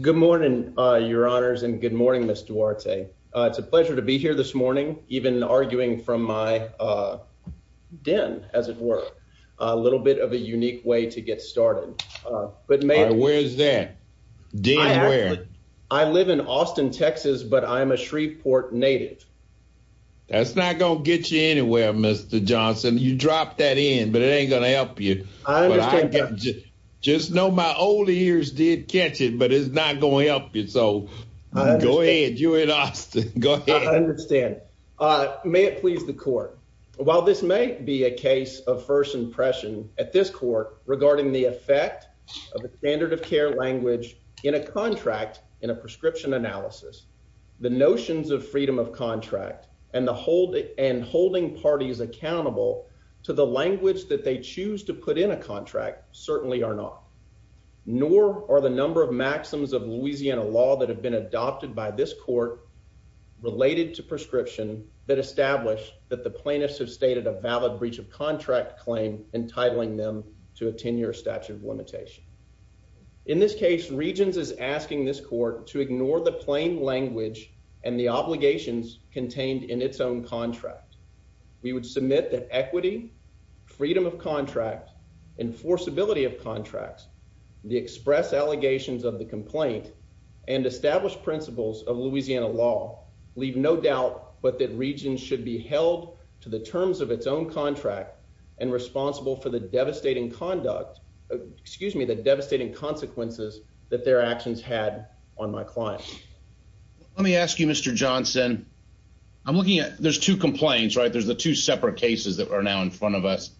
Good morning, your honors, and good morning, Mr Duarte. It's a pleasure to be here this morning, even arguing from my den, as it were, a little bit of a unique way to get started. But man, where's that? I live in Austin, Texas, but I'm a Shreveport native. That's not gonna get you anywhere, Mr. Johnson, you dropped that in, but it ain't gonna help you. I understand, just know my old ears did catch it, but it's not going to help you. So go ahead, you're in Austin, go ahead. I understand. May it please the court. While this may be a case of first impression at this court regarding the effect of a standard of care language in a contract in a prescription analysis, the notions of freedom of contract and holding parties accountable to the language that they choose to put in a contract certainly are not, nor are the number of maxims of Louisiana law that have been adopted by this court related to prescription that established that the plaintiffs have stated a valid breach of contract claim, entitling them to a 10 year statute of limitation. In this case, Regions is asking this court to ignore the plain language and the obligations contained in its own contract. We would submit that equity, freedom of contract, enforceability of contracts, the express allegations of the complaint and established principles of Louisiana law leave no doubt, but that region should be held to the terms of its own contract and responsible for the devastating conduct. Excuse me, the devastating consequences that their actions had on my client. Let me ask you, Mr Johnson, I'm looking at there's two complaints, right? There's the two separate cases that are now in front of us.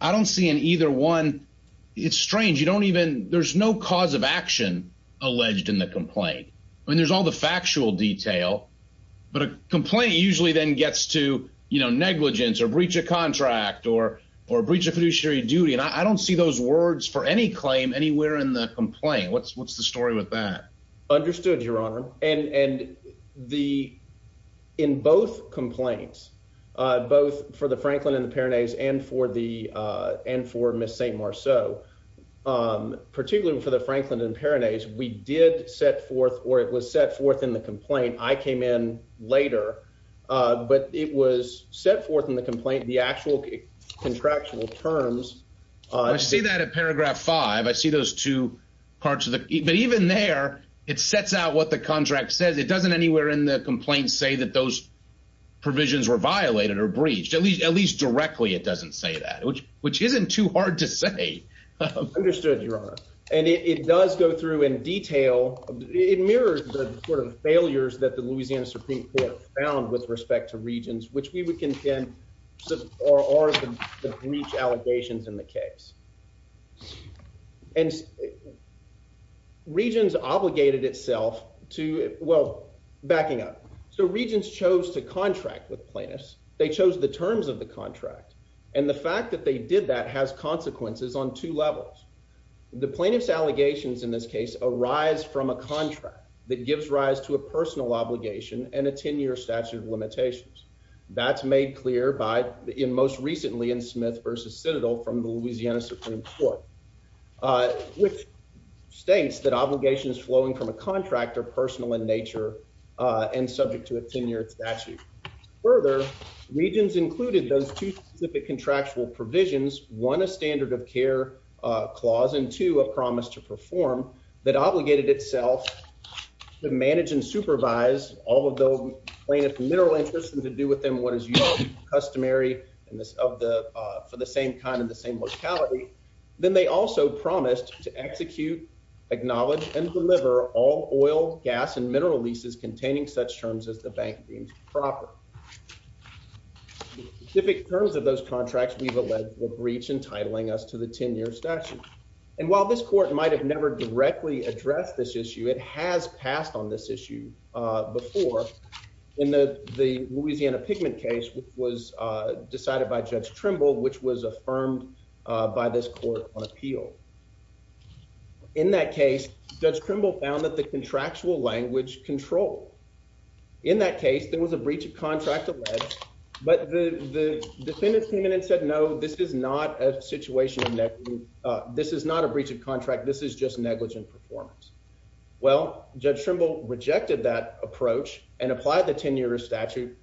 I don't see in either one. It's strange. You don't even there's no cause of action alleged in the complaint. I mean, there's all the factual detail. But a complaint usually then gets to, you know, negligence or breach of contract or, or breach of fiduciary duty. And I don't see those words for any claim anywhere in the complaint. What's what's the story with that? Understood, Your Honor. And the in both complaints, both for the Franklin and the parents and for the and for Miss St. Marceau, particularly for the Franklin and parents, we did set forth or it was set forth in the complaint. I came in later. But it was set forth in the complaint, the actual contractual terms. I see that in paragraph five, I see those two parts of the even there, it sets out what the contract says. It doesn't anywhere in the complaint say that those provisions were violated or breached at least at least directly. It doesn't say that, which which isn't too hard to say. Understood, Your Honor. And it does go through in detail. It mirrors the sort of failures that the Louisiana Supreme Court found with respect to regions which we would contend or or the breach allegations in the case. And regions obligated itself to well, backing up. So regions chose to contract with plaintiffs. They chose the terms of the contract. And the fact that they did that has consequences on two levels. The plaintiffs allegations in this case arise from a contract that gives rise to a personal obligation and a 10 year statute of limitations. That's made clear by in most recently in Smith versus Citadel from the Louisiana Supreme Court, which states that obligations flowing from a contractor personal in nature and subject to a 10 year statute. Further, regions included those two specific contractual provisions, one a standard of care clause into a promise to perform that obligated itself to manage and supervise all of the plaintiff mineral interest and to do with them what is customary and this of the for the same kind of the same locality. Then they also promised to execute, acknowledge and deliver all oil, gas and mineral leases containing such terms as the bank deems proper. If it turns of those contracts, we've alleged the breach entitling us to the 10 year statute. And while this court might have never directly addressed this issue, it has passed on this issue before in the Louisiana pigment case, which was decided by Judge Trimble, which was affirmed by this court on appeal. In that case, Judge Trimble found that the contractual language control. In that case, there was a breach of contract, but the defendant came in and said, No, this is not a situation. This is not a breach of contract. Judge Trimble rejected that approach and applied the 10 year statute,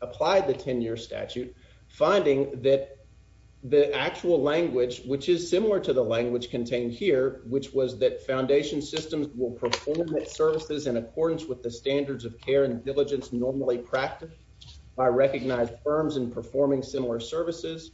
applied the 10 year statute, finding that the actual language, which is similar to the language contained here, which was that foundation systems will perform its services in accordance with the standards of care and diligence normally practiced by recognized firms and performing similar services.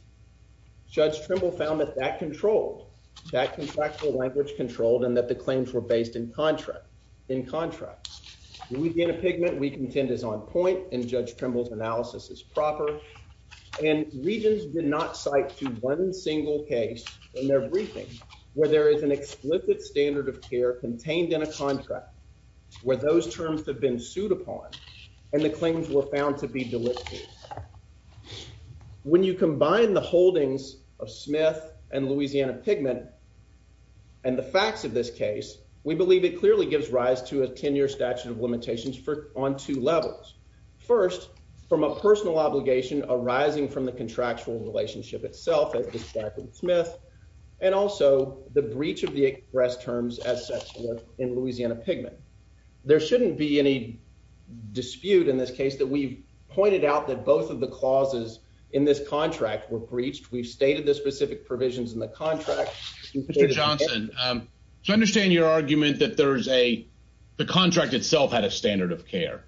Judge Trimble found that that controlled that contractual language controlled and that the claims were based in contract. In contrast, we get a pigment. We contend is on point and Judge Trimble's analysis is proper and regions did not cite to one single case in their briefing where there is an explicit standard of care contained in a contract where those terms have been sued upon and the claims were found to be delisted. When you combine the holdings of Smith and Louisiana pigment and the facts of this case, we believe it clearly gives rise to a 10 year statute of limitations for on two levels. First, from a personal obligation arising from the contractual relationship itself at the Smith and also the breach of the express terms as such in Louisiana pigment. There shouldn't be any dispute in this case that we've pointed out that both of the clauses in this contract were breached. We've stated the specific provisions in the contract. Mr. Johnson, so I understand your argument that there's a, the contract itself had a standard of care.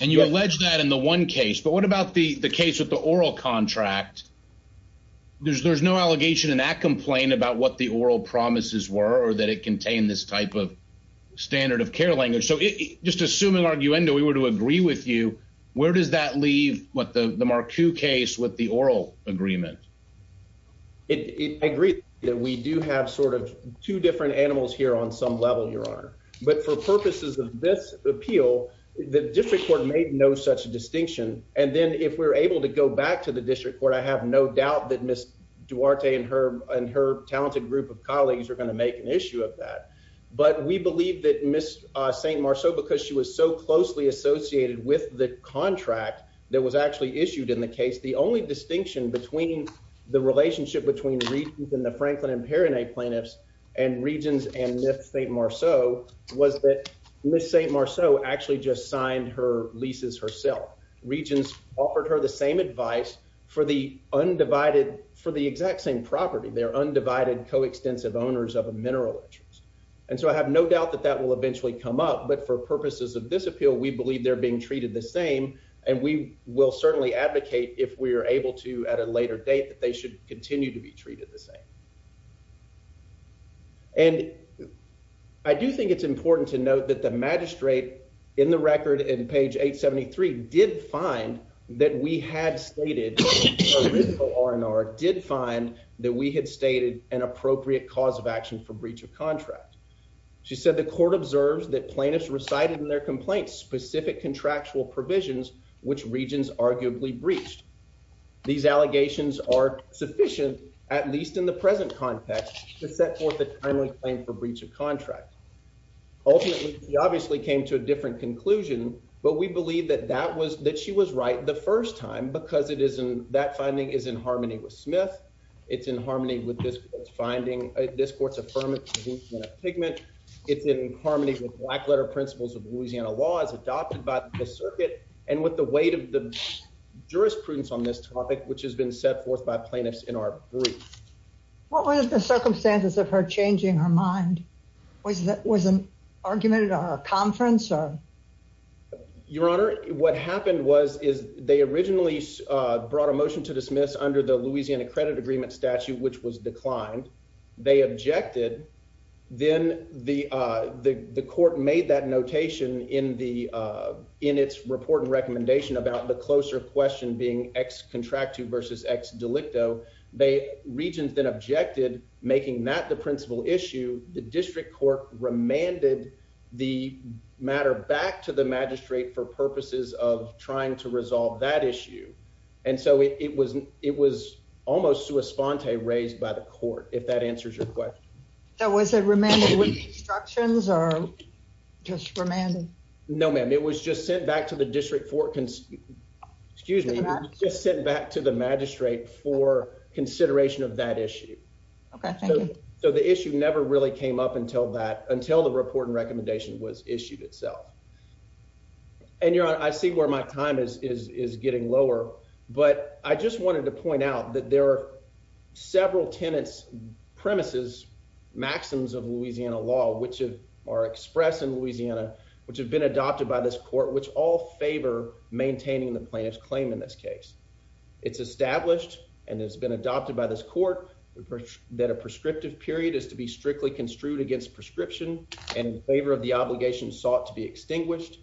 And you allege that in the one case, but what about the case with the oral contract? There's there's no allegation in that complaint about what the oral promises were, or that it contained this type of standard of care language. So just assuming arguendo, we were to agree with you, where does that leave what the the Marku case with the oral agreement? It agrees that we do have sort of two different animals here on some level, Your Honor, but for purposes of this appeal, the district court made no such distinction. And then if we're able to go back to the district court, I have no doubt that Miss Duarte and her and her talented group of colleagues are going to make an issue of that. But we believe that Miss St. Marcel because she was so closely associated with the contract that was actually issued in the case, the only distinction between the relationship between the Regents and the Franklin and Perinet plaintiffs and Regents and Miss St. Marcel was that Miss St. Marcel actually just signed her leases herself. Regents offered her the same advice for the undivided for the exact same property, their undivided coextensive owners of a mineral interest. And so I have no doubt that that will eventually come up. But for purposes of this appeal, we will certainly advocate if we are able to at a later date, that they should continue to be treated the same. And I do think it's important to note that the magistrate in the record in page 873 did find that we had stated R&R did find that we had stated an appropriate cause of action for breach of contract. She said the court observes that plaintiffs recited in their complaints specific contractual provisions, which regions arguably breached. These allegations are sufficient, at least in the present context, to set forth a timely claim for breach of contract. Ultimately, we obviously came to a different conclusion. But we believe that that was that she was right the first time because it isn't that finding is in harmony with Smith. It's in harmony with this finding this court's affirmative pigment. It's in harmony with black letter principles of Louisiana law is adopted by the circuit and with the weight of the jurisprudence on this topic, which has been set forth by plaintiffs in our group. What was the circumstances of her changing her mind? Was that was an argument at our conference or your honor, what happened was is they originally brought a motion to dismiss under the Louisiana credit agreement statute, which was declined. They objected. Then the the court made that notation in the in its report and recommendation about the closer question being x contract to versus x delicto. They regions then objected, making that the principal issue. The district court remanded the matter back to the magistrate for purposes of trying to resolve that issue. And so it was it was almost to a sponte raised by the court if that answers your question. That was a reminder with instructions are just remanded. No, ma'am. It was just sent back to the district for excuse me, just sent back to the magistrate for consideration of that issue. Okay, so the issue never really came up until that until the report and recommendation was issued itself. And your honor, I see where my time is is getting lower. But I just wanted to talk a little bit about the maxims of Louisiana law, which are expressed in Louisiana, which have been adopted by this court, which all favor maintaining the plaintiff's claim. In this case, it's established and has been adopted by this court that a prescriptive period is to be strictly construed against prescription and favor of the obligation sought to be extinguished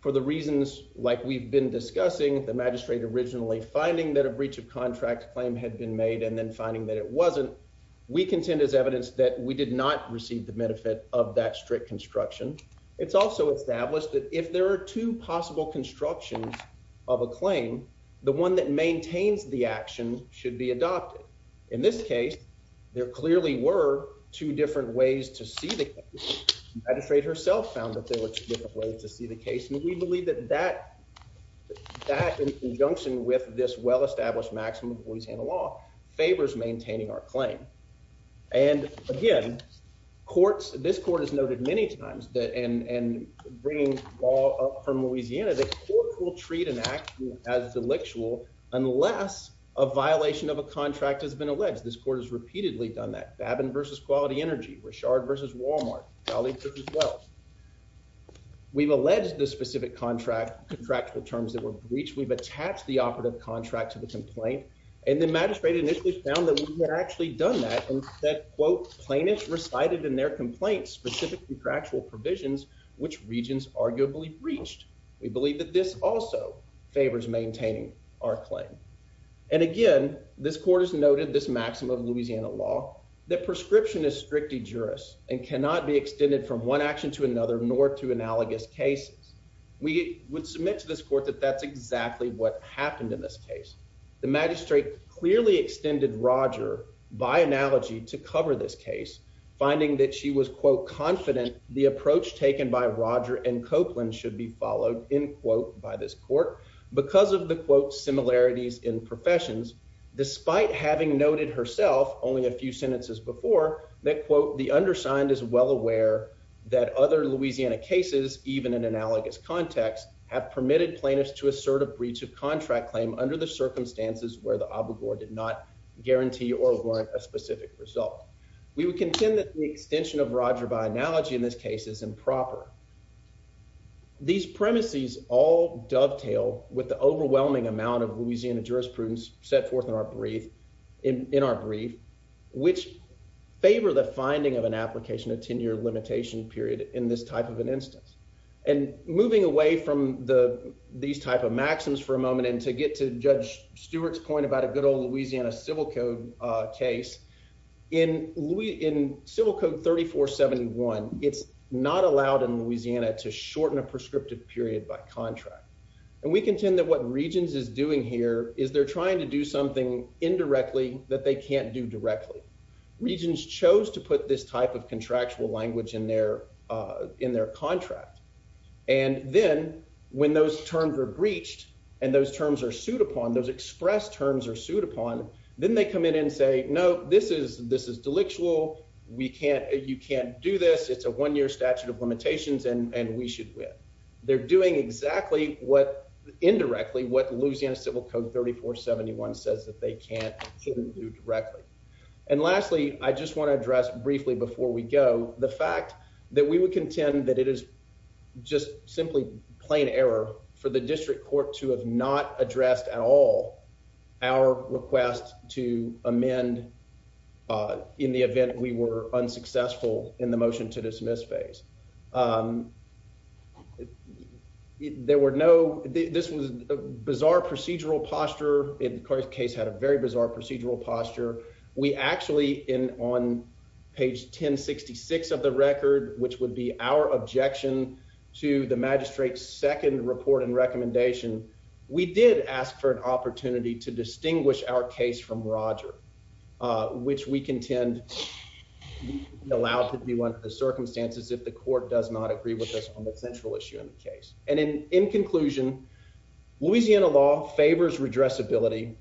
for the reasons like we've been discussing the magistrate originally finding that a breach of contract claim had been made and then finding that it wasn't. We contend as evidence that we did not receive the benefit of that strict construction. It's also established that if there are two possible constructions of a claim, the one that maintains the action should be adopted. In this case, there clearly were two different ways to see the magistrate herself found that there were two different ways to see the case. And we believe that that that in conjunction with this well established maximum Louisiana law favors maintaining our claim. And again, courts, this court has noted many times that and bringing all up from Louisiana, the court will treat an act as delictual, unless a violation of a contract has been alleged. This court has repeatedly done that Babin versus quality energy were shard versus Walmart Valley as well. We've alleged the specific contract contract with terms that were breached, we've attached the operative contract to the complaint. And the magistrate initially found that we had actually done that quote, plaintiff recited in their complaints specific contractual provisions, which regions arguably breached. We believe that this also favors maintaining our claim. And again, this court has noted this maximum Louisiana law that prescription is strictly jurors and cannot be extended from one action to another nor to analogous cases. We would submit to this court that that's exactly what happened in this case. The magistrate clearly extended Roger by analogy to cover this case, finding that she was quote confident the approach taken by Roger and Copeland should be followed in quote by this court, because of the quote similarities in professions, despite having noted herself only a few sentences before that quote, the undersigned is well aware that other Louisiana cases, even in analogous context, have permitted plaintiffs to assert a breach of contract claim under the circumstances where the guarantee or warrant a specific result. We would contend that the extension of Roger by analogy in this case is improper. These premises all dovetail with the overwhelming amount of Louisiana jurisprudence set forth in our brief in our brief, which favor the finding of an application of 10 year limitation period in this type of an instance, and moving away from the these type of maxims for a moment and to get to judge Stewart's point about a good old Louisiana Civil Code case in Louis in Civil Code 3471. It's not allowed in Louisiana to shorten a prescriptive period by contract. And we contend that what regions is doing here is they're trying to do something indirectly that they can't do directly. Regions chose to put this type of contractual language in their in their contract. And then when those terms are breached, and those terms are sued upon those express terms are sued upon, then they come in and say, No, this is this is delictual. We can't you can't do this. It's a one year statute of limitations and we should win. They're doing exactly what indirectly what Louisiana Civil Code 3471 says that they can't do directly. And lastly, I just want to address briefly before we go the fact that we would contend that it is just simply plain error for the addressed at all our request to amend in the event we were unsuccessful in the motion to dismiss phase. Um, there were no this was a bizarre procedural posture in court case had a very bizarre procedural posture. We actually in on page 10 66 of the record, which would be our objection to the magistrate's second report and recommendation, we did ask for an opportunity to distinguish our case from Roger, which we contend allowed to be one of the circumstances if the court does not agree with us on the central issue in the case. And in in conclusion, Louisiana law favors redress ability.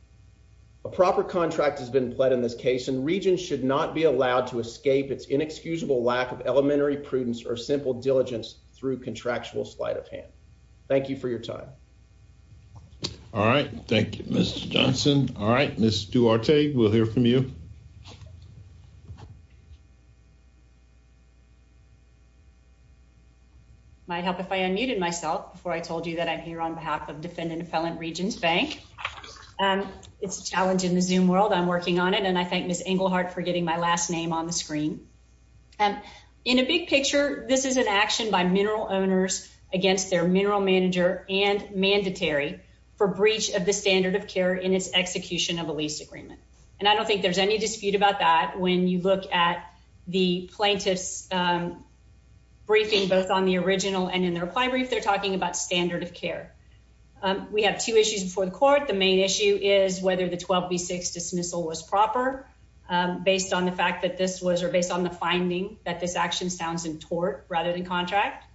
A proper contract has been pled in this case, and regions should not be allowed to escape its inexcusable lack of elementary prudence or simple diligence through contractual sleight of hand. Thank you for your time. All right. Thank you, Mr Johnson. All right, Mr Duarte. We'll hear from you. Might help if I unmuted myself before I told you that I'm here on behalf of defendant Appellant Regions Bank. Um, it's a challenge in the zoom world. I'm working on it, and I think Miss Engelhardt for getting my last name on the screen. Um, in a big picture, this is an action by mineral owners against their mineral manager and mandatory for breach of the standard of care in its execution of a lease agreement. And I don't think there's any dispute about that. When you look at the plaintiffs, um, briefing both on the original and in their prime brief, they're talking about standard of care. Um, we have two issues before the court. The main issue is whether the 12 B six dismissal was proper, um, based on the fact that this was or based on the finding that this action sounds in tort rather than contract.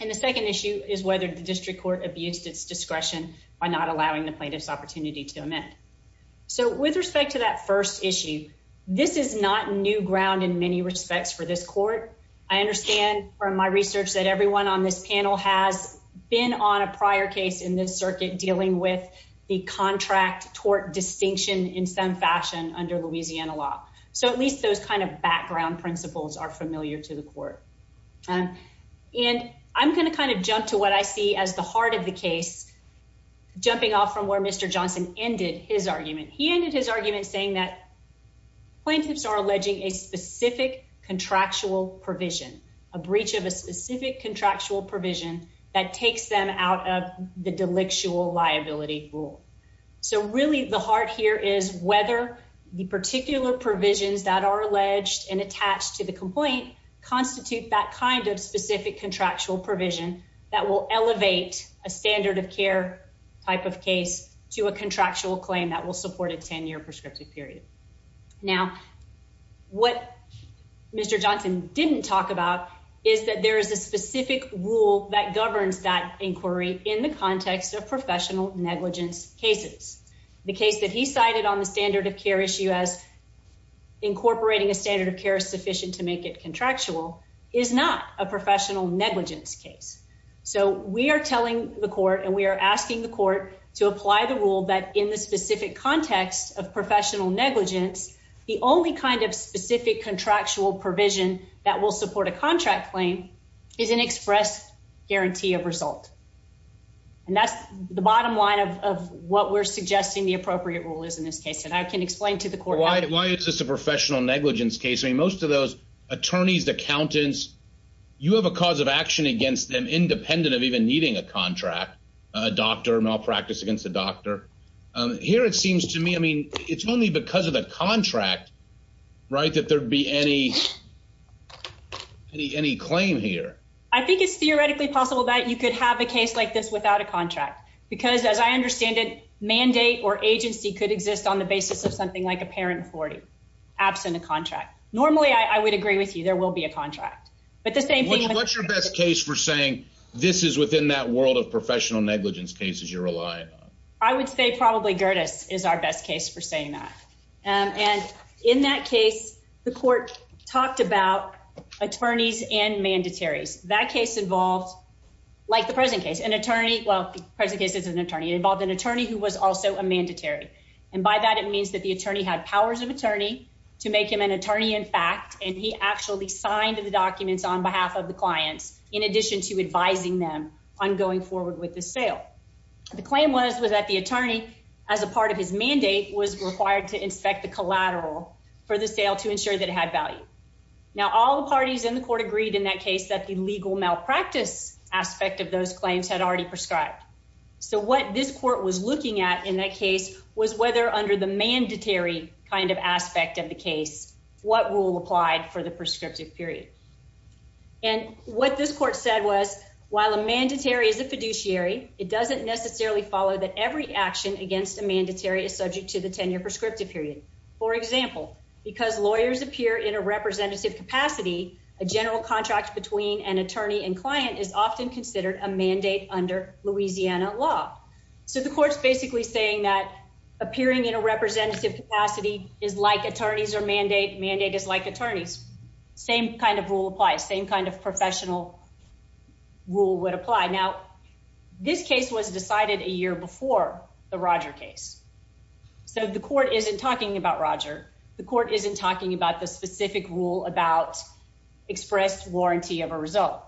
And the second issue is whether the district court abused its discretion by not allowing the plaintiffs opportunity to amend. So with respect to that first issue, this is not new ground in many respects for this court. I understand from my research that everyone on this panel has been on a prior case in this circuit dealing with the contract tort distinction in some fashion under Louisiana law. So at kind of background principles are familiar to the court. Um, and I'm gonna kind of jump to what I see as the heart of the case. Jumping off from where Mr Johnson ended his argument, he ended his argument, saying that plaintiffs are alleging a specific contractual provision, a breach of a specific contractual provision that takes them out of the delictual liability rule. So really, the heart here is whether the alleged and attached to the complaint constitute that kind of specific contractual provision that will elevate a standard of care type of case to a contractual claim that will support a 10 year prescriptive period. Now, what Mr Johnson didn't talk about is that there is a specific rule that governs that inquiry in the context of professional negligence cases. The case that he cited on the standard of care issue as incorporating a standard of care sufficient to make it contractual is not a professional negligence case. So we are telling the court and we're asking the court to apply the rule that in the specific context of professional negligence, the only kind of specific contractual provision that will support a contract claim is an express guarantee of result. And that's the bottom line of what we're suggesting the appropriate rule is in this case. And I can explain to the why is this a professional negligence case? I mean, most of those attorneys, accountants, you have a cause of action against them independent of even needing a contract, a doctor malpractice against the doctor. Here, it seems to me, I mean, it's only because of the contract, right, that there'd be any, any, any claim here. I think it's theoretically possible that you could have a case like this without a contract. Because as I understand it, mandate or agency could exist on the basis of something like a parent 40, absent a contract. Normally, I would agree with you, there will be a contract. But the same thing, what's your best case for saying this is within that world of professional negligence cases you're relying on? I would say probably Gerdes is our best case for saying that. And in that case, the court talked about attorneys and mandatories. That case involved, like the present case, an attorney, well, present case is an attorney involved an attorney who was also a mandatory. And by that, it means that the attorney had powers of attorney to make him an attorney in fact, and he actually signed the documents on behalf of the clients, in addition to advising them on going forward with the sale. The claim was was that the attorney, as a part of his mandate was required to inspect the collateral for the sale to ensure that it had value. Now, all the parties in the court agreed in that case that the legal malpractice aspect of those claims had already prescribed. So what this court was looking at in that case was whether under the mandatory kind of aspect of the case, what rule applied for the prescriptive period. And what this court said was, while a mandatory is a fiduciary, it doesn't necessarily follow that every action against a mandatory is subject to the 10 year prescriptive period. For example, because lawyers appear in a representative capacity, a general contract between an attorney and client is often considered a mandate under Louisiana law. So the court's basically saying that appearing in a representative capacity is like attorneys or mandate mandate is like attorneys, same kind of rule applies, same kind of professional rule would apply. Now, this case was decided a year before the Roger case. So the court isn't talking about Roger, the court isn't talking about the specific rule about expressed warranty of a result.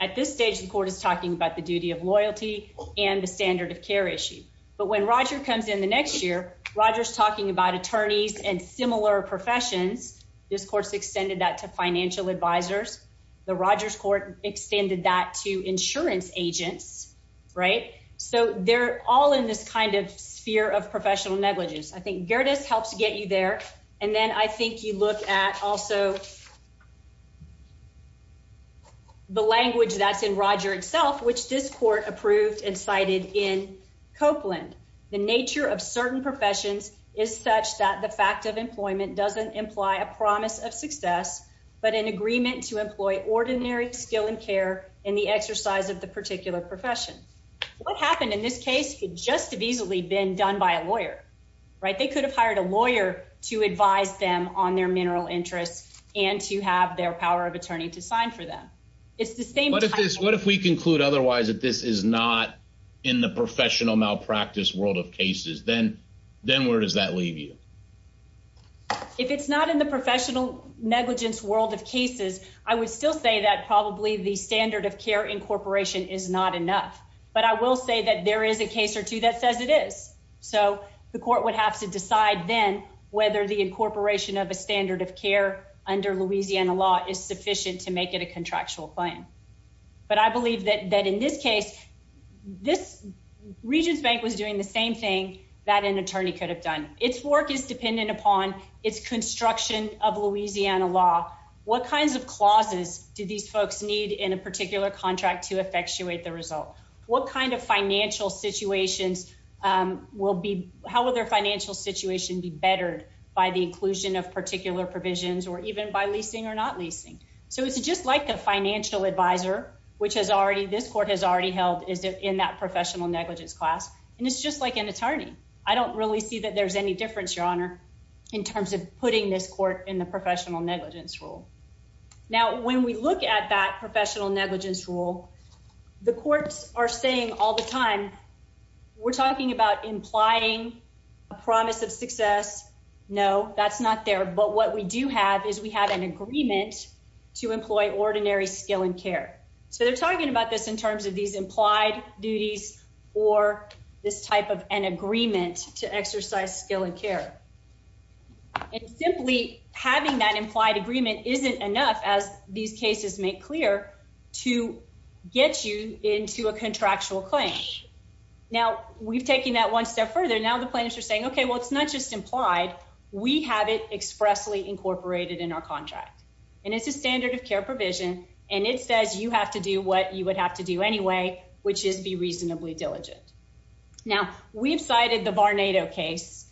At this stage, the court is talking about the duty of loyalty and the standard of care issue. But when Roger comes in the next year, Roger's talking about attorneys and similar professions. This court's extended that to financial advisors. The Rogers court extended that to insurance agents, right? So they're all in this kind of sphere of professional negligence. I think Gerdes helps get you there. And then I think you look at also the language that's in Roger itself, which this court approved and cited in Copeland, the nature of certain professions is such that the fact of employment doesn't imply a promise of success, but an agreement to employ ordinary skill and care in the exercise of the particular profession. What happened in this case could just have easily been done by a lawyer, right? They could have hired a lawyer to advise them on to have their power of attorney to sign for them. It's the same what if this what if we conclude otherwise that this is not in the professional malpractice world of cases, then, then where does that leave you? If it's not in the professional negligence world of cases, I would still say that probably the standard of care incorporation is not enough. But I will say that there is a case or two that says it is. So the court would have to decide then whether the incorporation of a standard of care under Louisiana law is sufficient to make it a contractual plan. But I believe that that in this case, this region's bank was doing the same thing that an attorney could have done its work is dependent upon its construction of Louisiana law. What kinds of clauses do these folks need in a particular contract to effectuate the result? What kind of financial situations will be how will their financial situation be bettered by the inclusion of particular provisions or even by leasing or not leasing? So it's just like a financial advisor, which has already this court has already held is in that professional negligence class. And it's just like an attorney, I don't really see that there's any difference, Your Honor, in terms of putting this court in the professional negligence rule. Now, when we look at that professional negligence rule, the courts are saying all the time, we're talking about implying a promise of success. No, that's not there. But what we do have is we have an agreement to employ ordinary skill and care. So they're talking about this in terms of these implied duties, or this type of an agreement to exercise skill and care. And simply having that implied agreement isn't enough as these cases make clear to get you into a contractual claim. Now, we've taken that one step further. Now the plaintiffs are saying, okay, well, it's not just implied, we have it expressly incorporated in our contract. And it's a standard of care provision. And it says you have to do what you would have to do anyway, which is be reasonably diligent. Now, we've cited the Varnado case,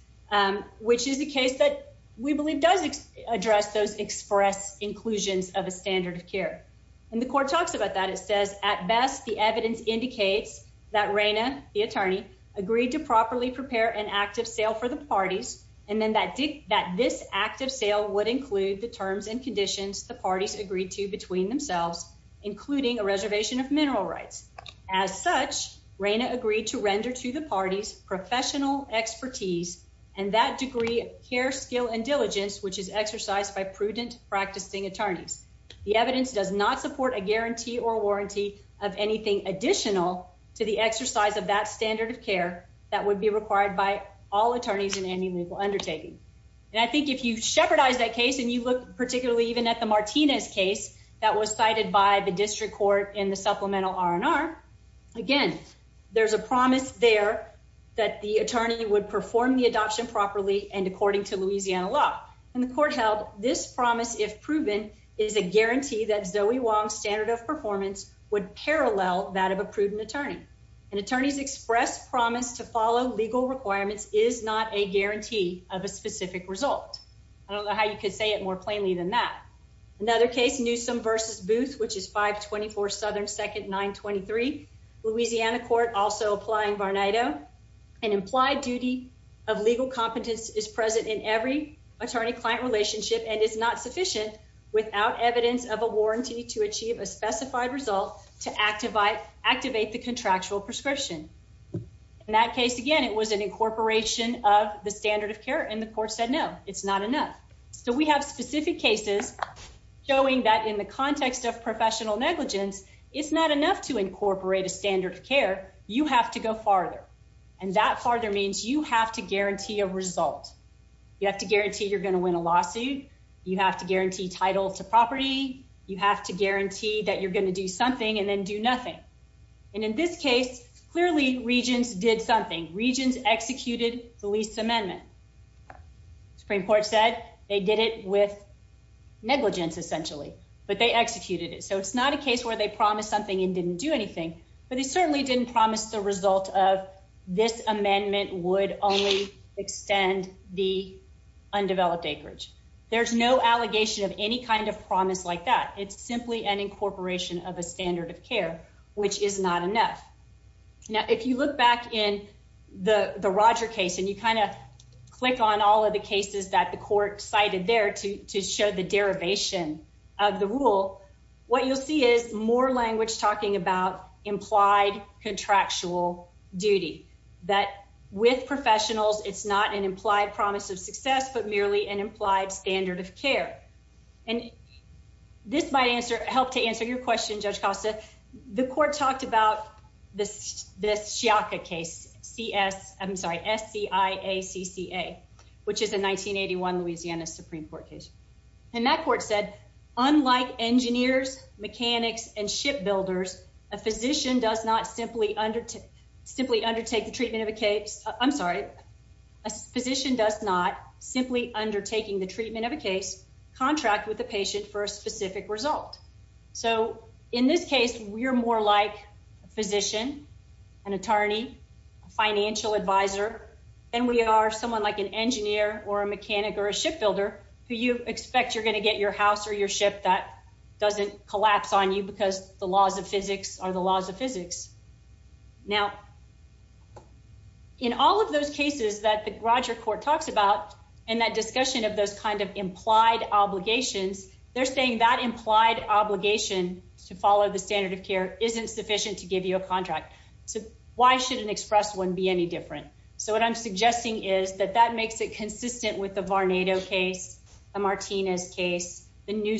which is a case that we believe does address those express inclusions of a standard of care. And the court talks about that. It says at best, the evidence indicates that Raina, the attorney agreed to properly prepare an active sale for the parties. And then that did that this active sale would include the terms and conditions the parties agreed to between themselves, including a reservation of mineral rights. As such, Raina agreed to render to the parties professional expertise, and that degree of care, skill and diligence, which is exercised by prudent practicing attorneys. The evidence does not support a guarantee or warranty of anything additional to the exercise of that standard of care that would be required by all attorneys in any legal undertaking. And I think if you shepherd eyes that case, and you look particularly even at the Martinez case that was cited by the district court in the supplemental R&R. Again, there's a promise there that the attorney would perform the law. And the court held this promise, if proven, is a guarantee that Zoe Wong standard of performance would parallel that of a prudent attorney. And attorneys express promise to follow legal requirements is not a guarantee of a specific result. I don't know how you could say it more plainly than that. Another case Newsome versus booth, which is 524 Southern second 923. Louisiana court also applying Barnett. Oh, an implied duty of legal competence is present in every attorney client relationship and is not sufficient without evidence of a warranty to achieve a specified result to activate activate the contractual prescription. In that case, again, it was an incorporation of the standard of care and the court said no, it's not enough. So we have specific cases showing that in the context of professional negligence, it's not enough to incorporate a standard of care, you have to go farther. And that farther means you have to guarantee a result. You have to guarantee you're going to win a lawsuit, you have to guarantee title to property, you have to guarantee that you're going to do something and then do nothing. And in this case, clearly, regions did something regions executed the lease amendment. Supreme Court said they did it with negligence, essentially, but they executed it. So it's not a case where they promised something and didn't do anything. But they certainly didn't promise the result of this amendment would only extend the undeveloped acreage. There's no allegation of any kind of promise like that. It's simply an incorporation of a standard of care, which is not enough. Now, if you look back in the the Roger case, and you kind of click on all of the cases that the court cited there to show the derivation of the rule, what you'll see is more language talking about implied contractual duty, that with professionals, it's not an implied promise of success, but merely an implied standard of care. And this might answer help to answer your question, Judge Costa, the court talked about this, this Shaka case, CS, I'm sorry, SCI, a CCA, which is a 1981 Louisiana Supreme Court case. And that court said, unlike engineers, mechanics and shipbuilders, a physician does not simply undertake, simply undertake the treatment of a case, I'm sorry, a physician does not simply undertaking the treatment of a case contract with the patient for a specific result. So in this case, we're more like a physician, an attorney, financial advisor, and we are someone like an engineer or a mechanic or a shipbuilder who you expect you're going to get your house or your ship that doesn't collapse on you because the laws of physics are the laws of physics. Now, in all of those cases that the Roger court talks about, and that discussion of those kind of implied obligations, they're saying that implied obligation to follow the standard of care isn't sufficient to give you a contract. So why should an express one be any different. So what I'm suggesting is that that makes it consistent with the Martinez case, the new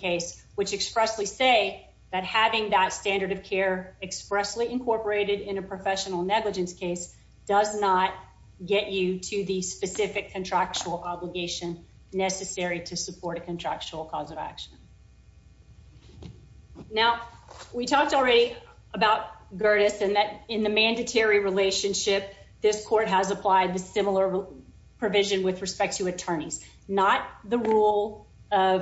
case, which expressly say that having that standard of care expressly incorporated in a professional negligence case does not get you to the specific contractual obligation necessary to support a contractual cause of action. Now, we talked already about Gerdes and that in the mandatory relationship, this court has applied the similar provision with respect to attorneys, not the rule of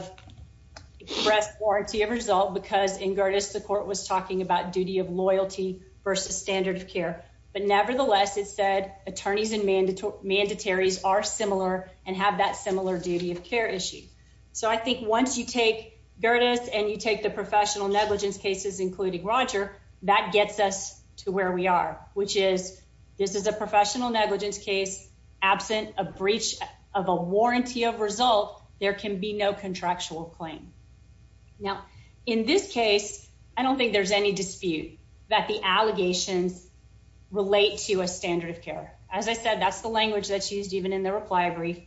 express warranty of result, because in Gerdes, the court was talking about duty of loyalty versus standard of care. But nevertheless, it said attorneys and mandatory mandatories are similar and have that similar duty of care issue. So I think once you take Gerdes and you take the professional negligence cases, including Roger, that gets us to where we are, which is, this is a breach of a warranty of result, there can be no contractual claim. Now, in this case, I don't think there's any dispute that the allegations relate to a standard of care. As I said, that's the language that's used even in the reply brief.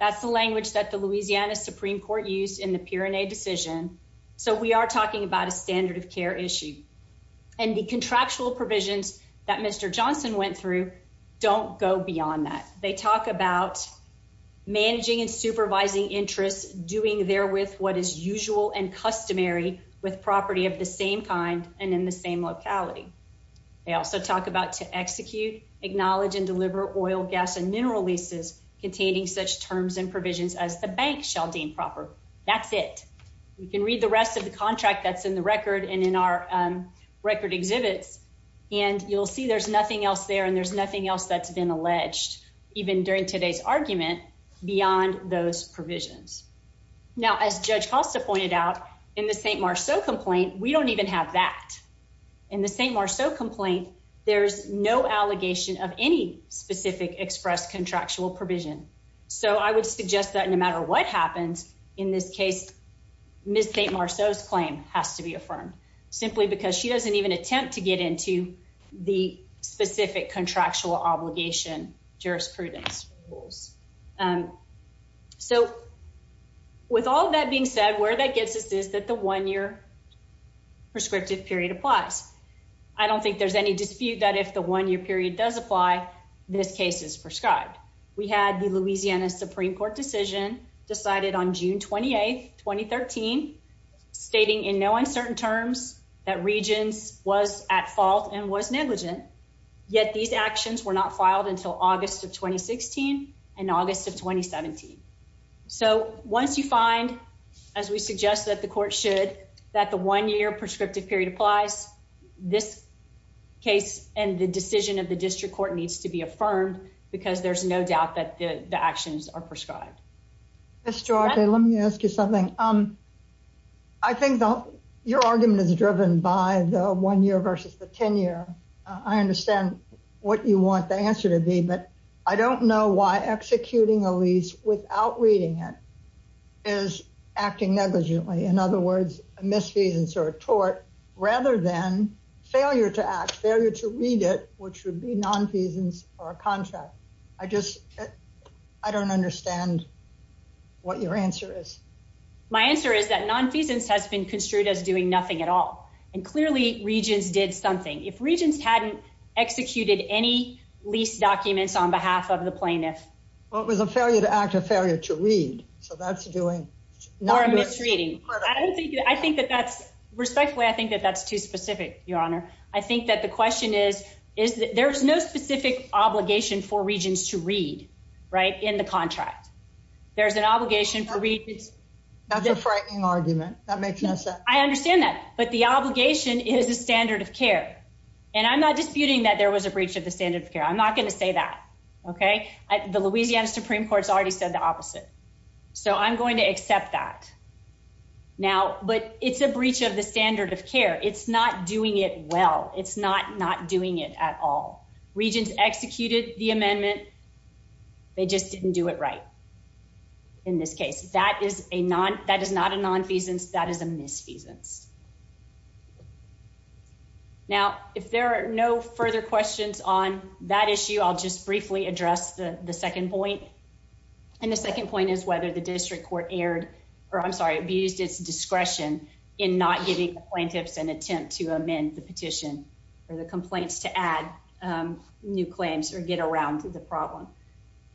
That's the language that the Louisiana Supreme Court used in the Pirinei decision. So we are talking about a standard of care issue. And the contractual provisions that Mr. Johnson went through, don't go beyond that. They talk about managing and supervising interests doing there with what is usual and customary with property of the same kind and in the same locality. They also talk about to execute, acknowledge and deliver oil, gas and mineral leases containing such terms and provisions as the bank shall deem proper. That's it. We can read the rest of the contract that's in the record and in our record exhibits. And you'll see there's nothing else there. And there's nothing else that's been alleged, even during today's argument beyond those provisions. Now, as Judge Costa pointed out, in the St. Marceau complaint, we don't even have that. In the St. Marceau complaint, there's no allegation of any specific express contractual provision. So I would suggest that no matter what happens, in this case, Ms. St. Marceau's claim has to be affirmed, simply because she doesn't even attempt to get into the specific contractual obligation, jurisprudence rules. So with all that being said, where that gets us is that the one year prescriptive period applies. I don't think there's any dispute that if the one year period does apply, this case is prescribed. We had the Louisiana Supreme Court decision decided on June 28, 2013, stating in no uncertain terms that Regence was at fault and was negligent. Yet these actions were not filed until August of 2016, and August of 2017. So once you find, as we suggest that the court should, that the one year prescriptive period applies, this case and the decision of the district court needs to be affirmed, because there's no doubt that the actions are prescribed. Ms. Duarte, let me ask you something. Um, I think your argument is driven by the one year versus the 10 year. I understand what you want the answer to be. But I don't know why executing a lease without reading it is acting negligently. In other words, a misfeasance or a tort, rather than failure to act, failure to read it, which would be a nonfeasance or a contract. I just I don't understand what your answer is. My answer is that nonfeasance has been construed as doing nothing at all. And clearly, Regence did something. If Regence hadn't executed any lease documents on behalf of the plaintiff. Well, it was a failure to act, a failure to read. So that's doing... Or a misreading. I think that that's, respectfully, I think that that's too specific, Your Honor. I think that the question is, is there's no specific obligation for Regence to read, right, in the contract. There's an obligation for Regence... That's a frightening argument. That makes no sense. I understand that. But the obligation is a standard of care. And I'm not disputing that there was a breach of the standard of care. I'm not going to say that. Okay. The Louisiana Supreme Court's already said the opposite. So I'm going to accept that. Now, but it's a breach of the standard of care. It's not doing it well. It's not not doing it at all. Regence executed the amendment. They just didn't do it right in this case. That is a non... That is not a nonfeasance. That is a misfeasance. Now, if there are no further questions on that issue, I'll just briefly address the second point. And the second point is whether the district court erred, or I'm sorry, abused its discretion in not giving the plaintiffs an attempt to amend the petition or the complaints to add new claims or get around to the problem.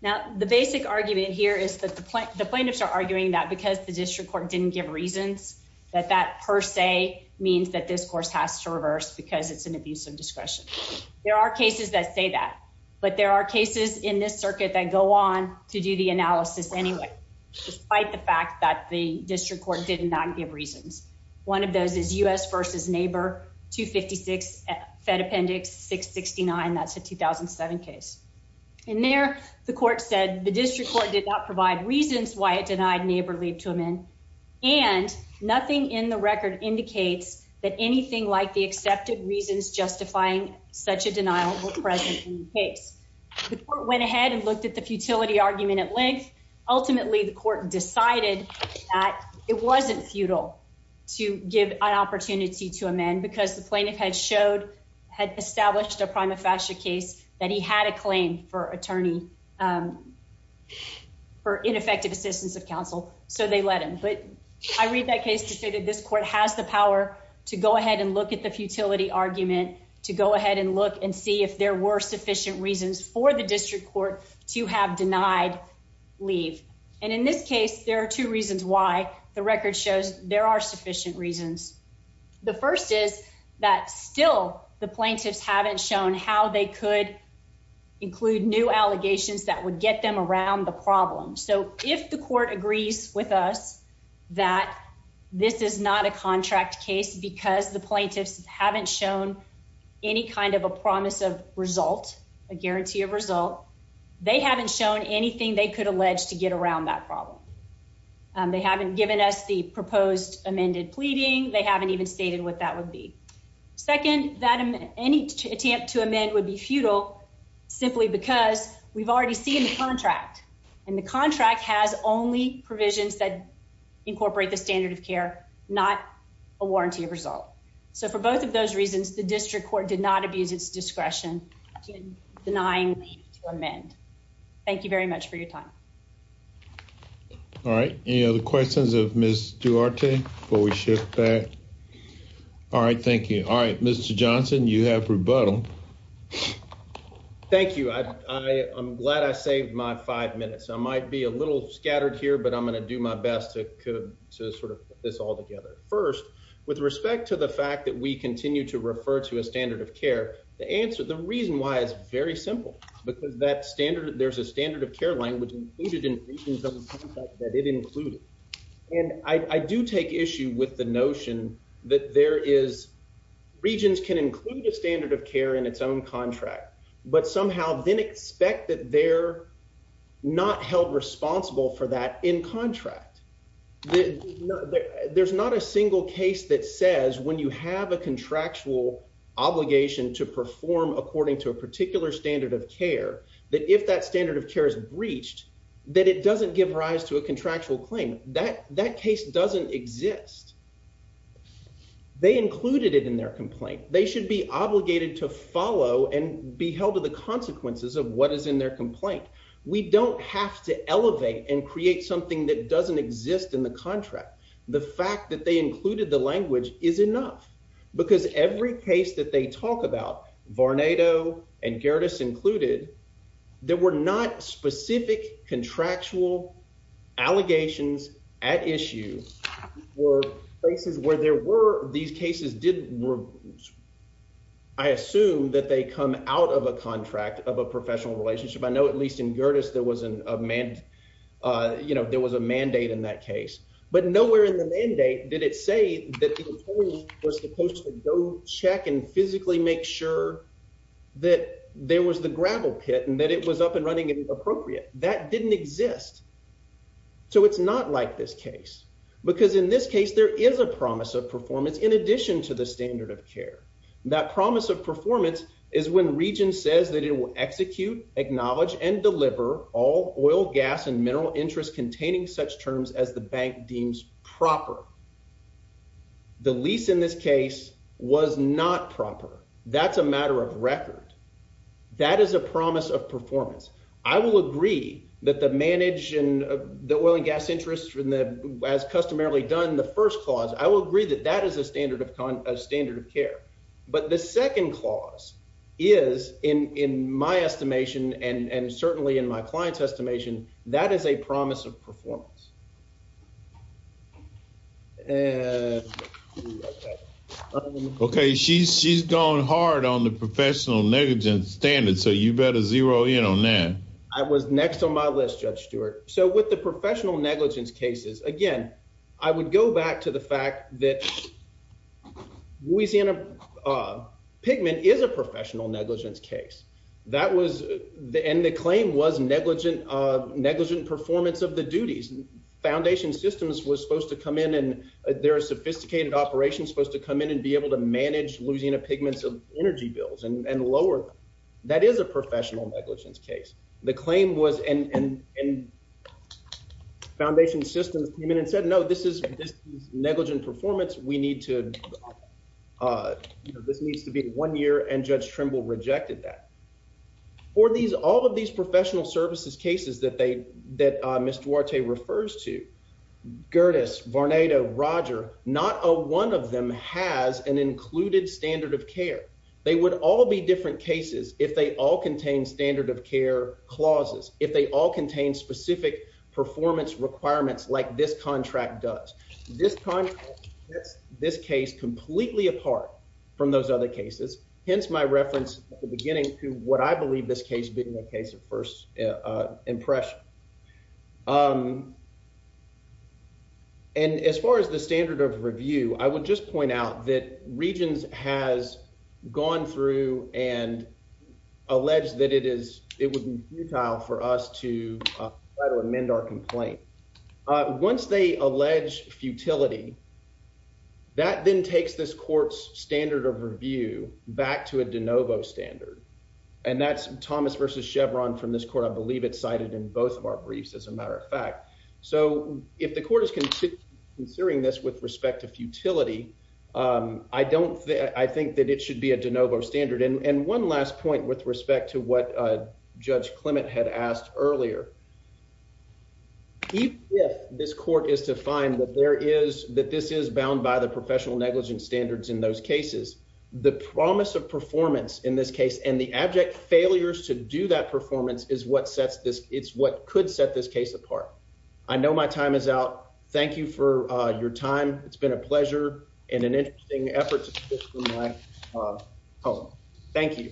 Now, the basic argument here is that the plaintiffs are arguing that because the district court didn't give reasons, that that per se means that this course has to reverse because it's an abuse of discretion. There are cases that say that. But there are cases in this circuit that go on to do the analysis anyway, despite the fact that the district court did not give reasons. One of those is U.S. versus neighbor 256 Fed Appendix 669. That's a 2007 case. In there, the court said the district court did not provide reasons why it denied neighborly to amend. And nothing in the record indicates that anything like the accepted reasons justifying such a denial were present in the case. The court went ahead and looked at the futility argument at length. Ultimately, the court decided that it wasn't futile to give an opportunity to amend because the plaintiff had showed had established a prima facie case that he had a claim for attorney for ineffective assistance of counsel. So they let him but I read that case to say that this court has the power to go ahead and look at the futility argument to go ahead and look and see if there were sufficient reasons for the district court to have denied leave. And in this case, there are two reasons why the record shows there are sufficient reasons. The first is that still the plaintiffs haven't shown how they could include new allegations that would get them around the problem. So if the court agrees with us, that this is not a contract case, because the plaintiffs haven't shown any promise of result, a guarantee of result, they haven't shown anything they could allege to get around that problem. They haven't given us the proposed amended pleading, they haven't even stated what that would be. Second, that any attempt to amend would be futile, simply because we've already seen the contract. And the contract has only provisions that incorporate the standard of care, not a warranty result. So for both of these, it's discretion in denying to amend. Thank you very much for your time. All right. Any other questions of Ms. Duarte before we shift back? All right. Thank you. All right. Mr. Johnson, you have rebuttal. Thank you. I am glad I saved my five minutes. I might be a little scattered here, but I'm going to do my best to sort of this all together. First, with respect to the fact that we continue to refer to a standard of care, the answer, the reason why is very simple, because that standard, there's a standard of care language included in regions of the contract that it included. And I do take issue with the notion that there is, regions can include a standard of care in its own contract, but somehow then expect that they're not held responsible for that in contract. There's not a single case that says when you have a contractual obligation to perform according to a particular standard of care, that if that standard of care is breached, that it doesn't give rise to a contractual claim. That case doesn't exist. They included it in their complaint. They should be obligated to follow and be held to the consequences of what is in their complaint. We don't have to elevate and create something that doesn't exist in the contract. The fact that they every case that they talk about, Varnado and Gerdes included, there were not specific contractual allegations at issue were places where there were these cases didn't, I assume that they come out of a contract of a professional relationship. I know, at least in Gerdes, there was a mandate in that case, but nowhere in the mandate did it say that the employee was supposed to go check and physically make sure that there was the gravel pit and that it was up and running and appropriate. That didn't exist. It's not like this case, because in this case, there is a promise of performance in addition to the standard of care. That promise of performance is when region says that it will execute, acknowledge and deliver all oil, gas and mineral interest containing such terms as the bank deems proper. The lease in this case was not proper. That's a matter of record. That is a promise of performance. I will agree that the manage and the oil and gas interest from the as customarily done the first clause, I will agree that that is a standard of standard of care. But the second clause is in my estimation, and certainly in my client's estimation, that is a promise of performance. Okay, she's she's going hard on the professional negligence standard. So you better zero in on that. I was next on my list, Judge Stewart. So with the professional negligence cases, again, I would go back to the fact that we see in a pigment is a professional negligence case. That was the end, the claim was negligent, negligent performance of the duties and foundation systems was supposed to come in and there are sophisticated operations supposed to come in and be able to manage losing a pigments of energy bills and lower. That is a professional negligence case. The claim was and foundation systems came in and said, No, this is this negligent performance, we need to. This needs to be one year and Judge Trimble rejected that. For these all of these professional services cases that they that Mr. Warte refers to Gerdes, Varnado, Roger, not a one of them has an included standard of care. They would all be different cases if they all contain standard of care clauses, if they all contain specific performance requirements like this contract does. This time, this case completely apart from those other cases, hence my reference at the beginning to what I believe this case being a case of first impression. Um, and as far as the standard of review, I would just point out that regions has gone through and alleged that it is, it would be futile for us to amend our complaint. Once they allege futility, that then takes this court's standard of review back to a de novo standard. And that's Thomas versus Chevron from this court. I believe it's cited in both of our briefs as a matter of fact. So if the court is considering this with respect to futility, I don't think I think that it should be a de novo standard. And one last point with respect to what Judge is to find that there is that this is bound by the professional negligence standards in those cases, the promise of performance in this case and the abject failures to do that performance is what sets this, it's what could set this case apart. I know my time is out. Thank you for your time. It's been a pleasure and an interesting effort. Oh, thank you.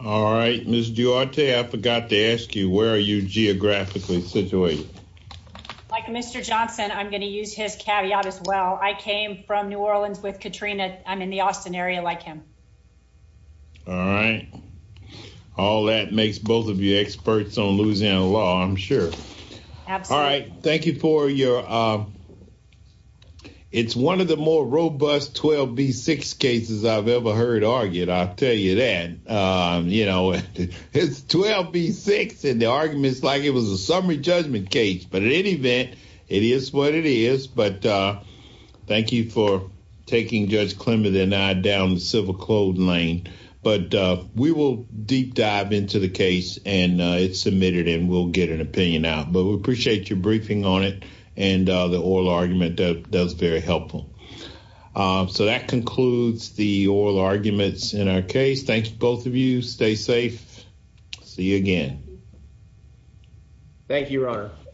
All right, Miss Duarte, I forgot to ask you, where are you geographically situated? Like Mr. Johnson, I'm going to use his caveat as well. I came from New Orleans with Katrina. I'm in the Austin area like him. All right. All that makes both of you experts on Louisiana law. I'm sure. All right. Thank you for your it's one of the more robust 12 v six cases I've ever heard argued, I'll tell you that, you know, it's 12 v six and the arguments like it was a summary judgment case. But in any event, it is what it is. But thank you for taking Judge Clement and I down the civil code lane. But we will deep dive into the case and it's submitted and we'll get an opinion out. But we appreciate your briefing on it. And the oral argument does very helpful. So that concludes the oral arguments in our case. Thanks, both of you stay safe. See you again. Thank you, Your Honor.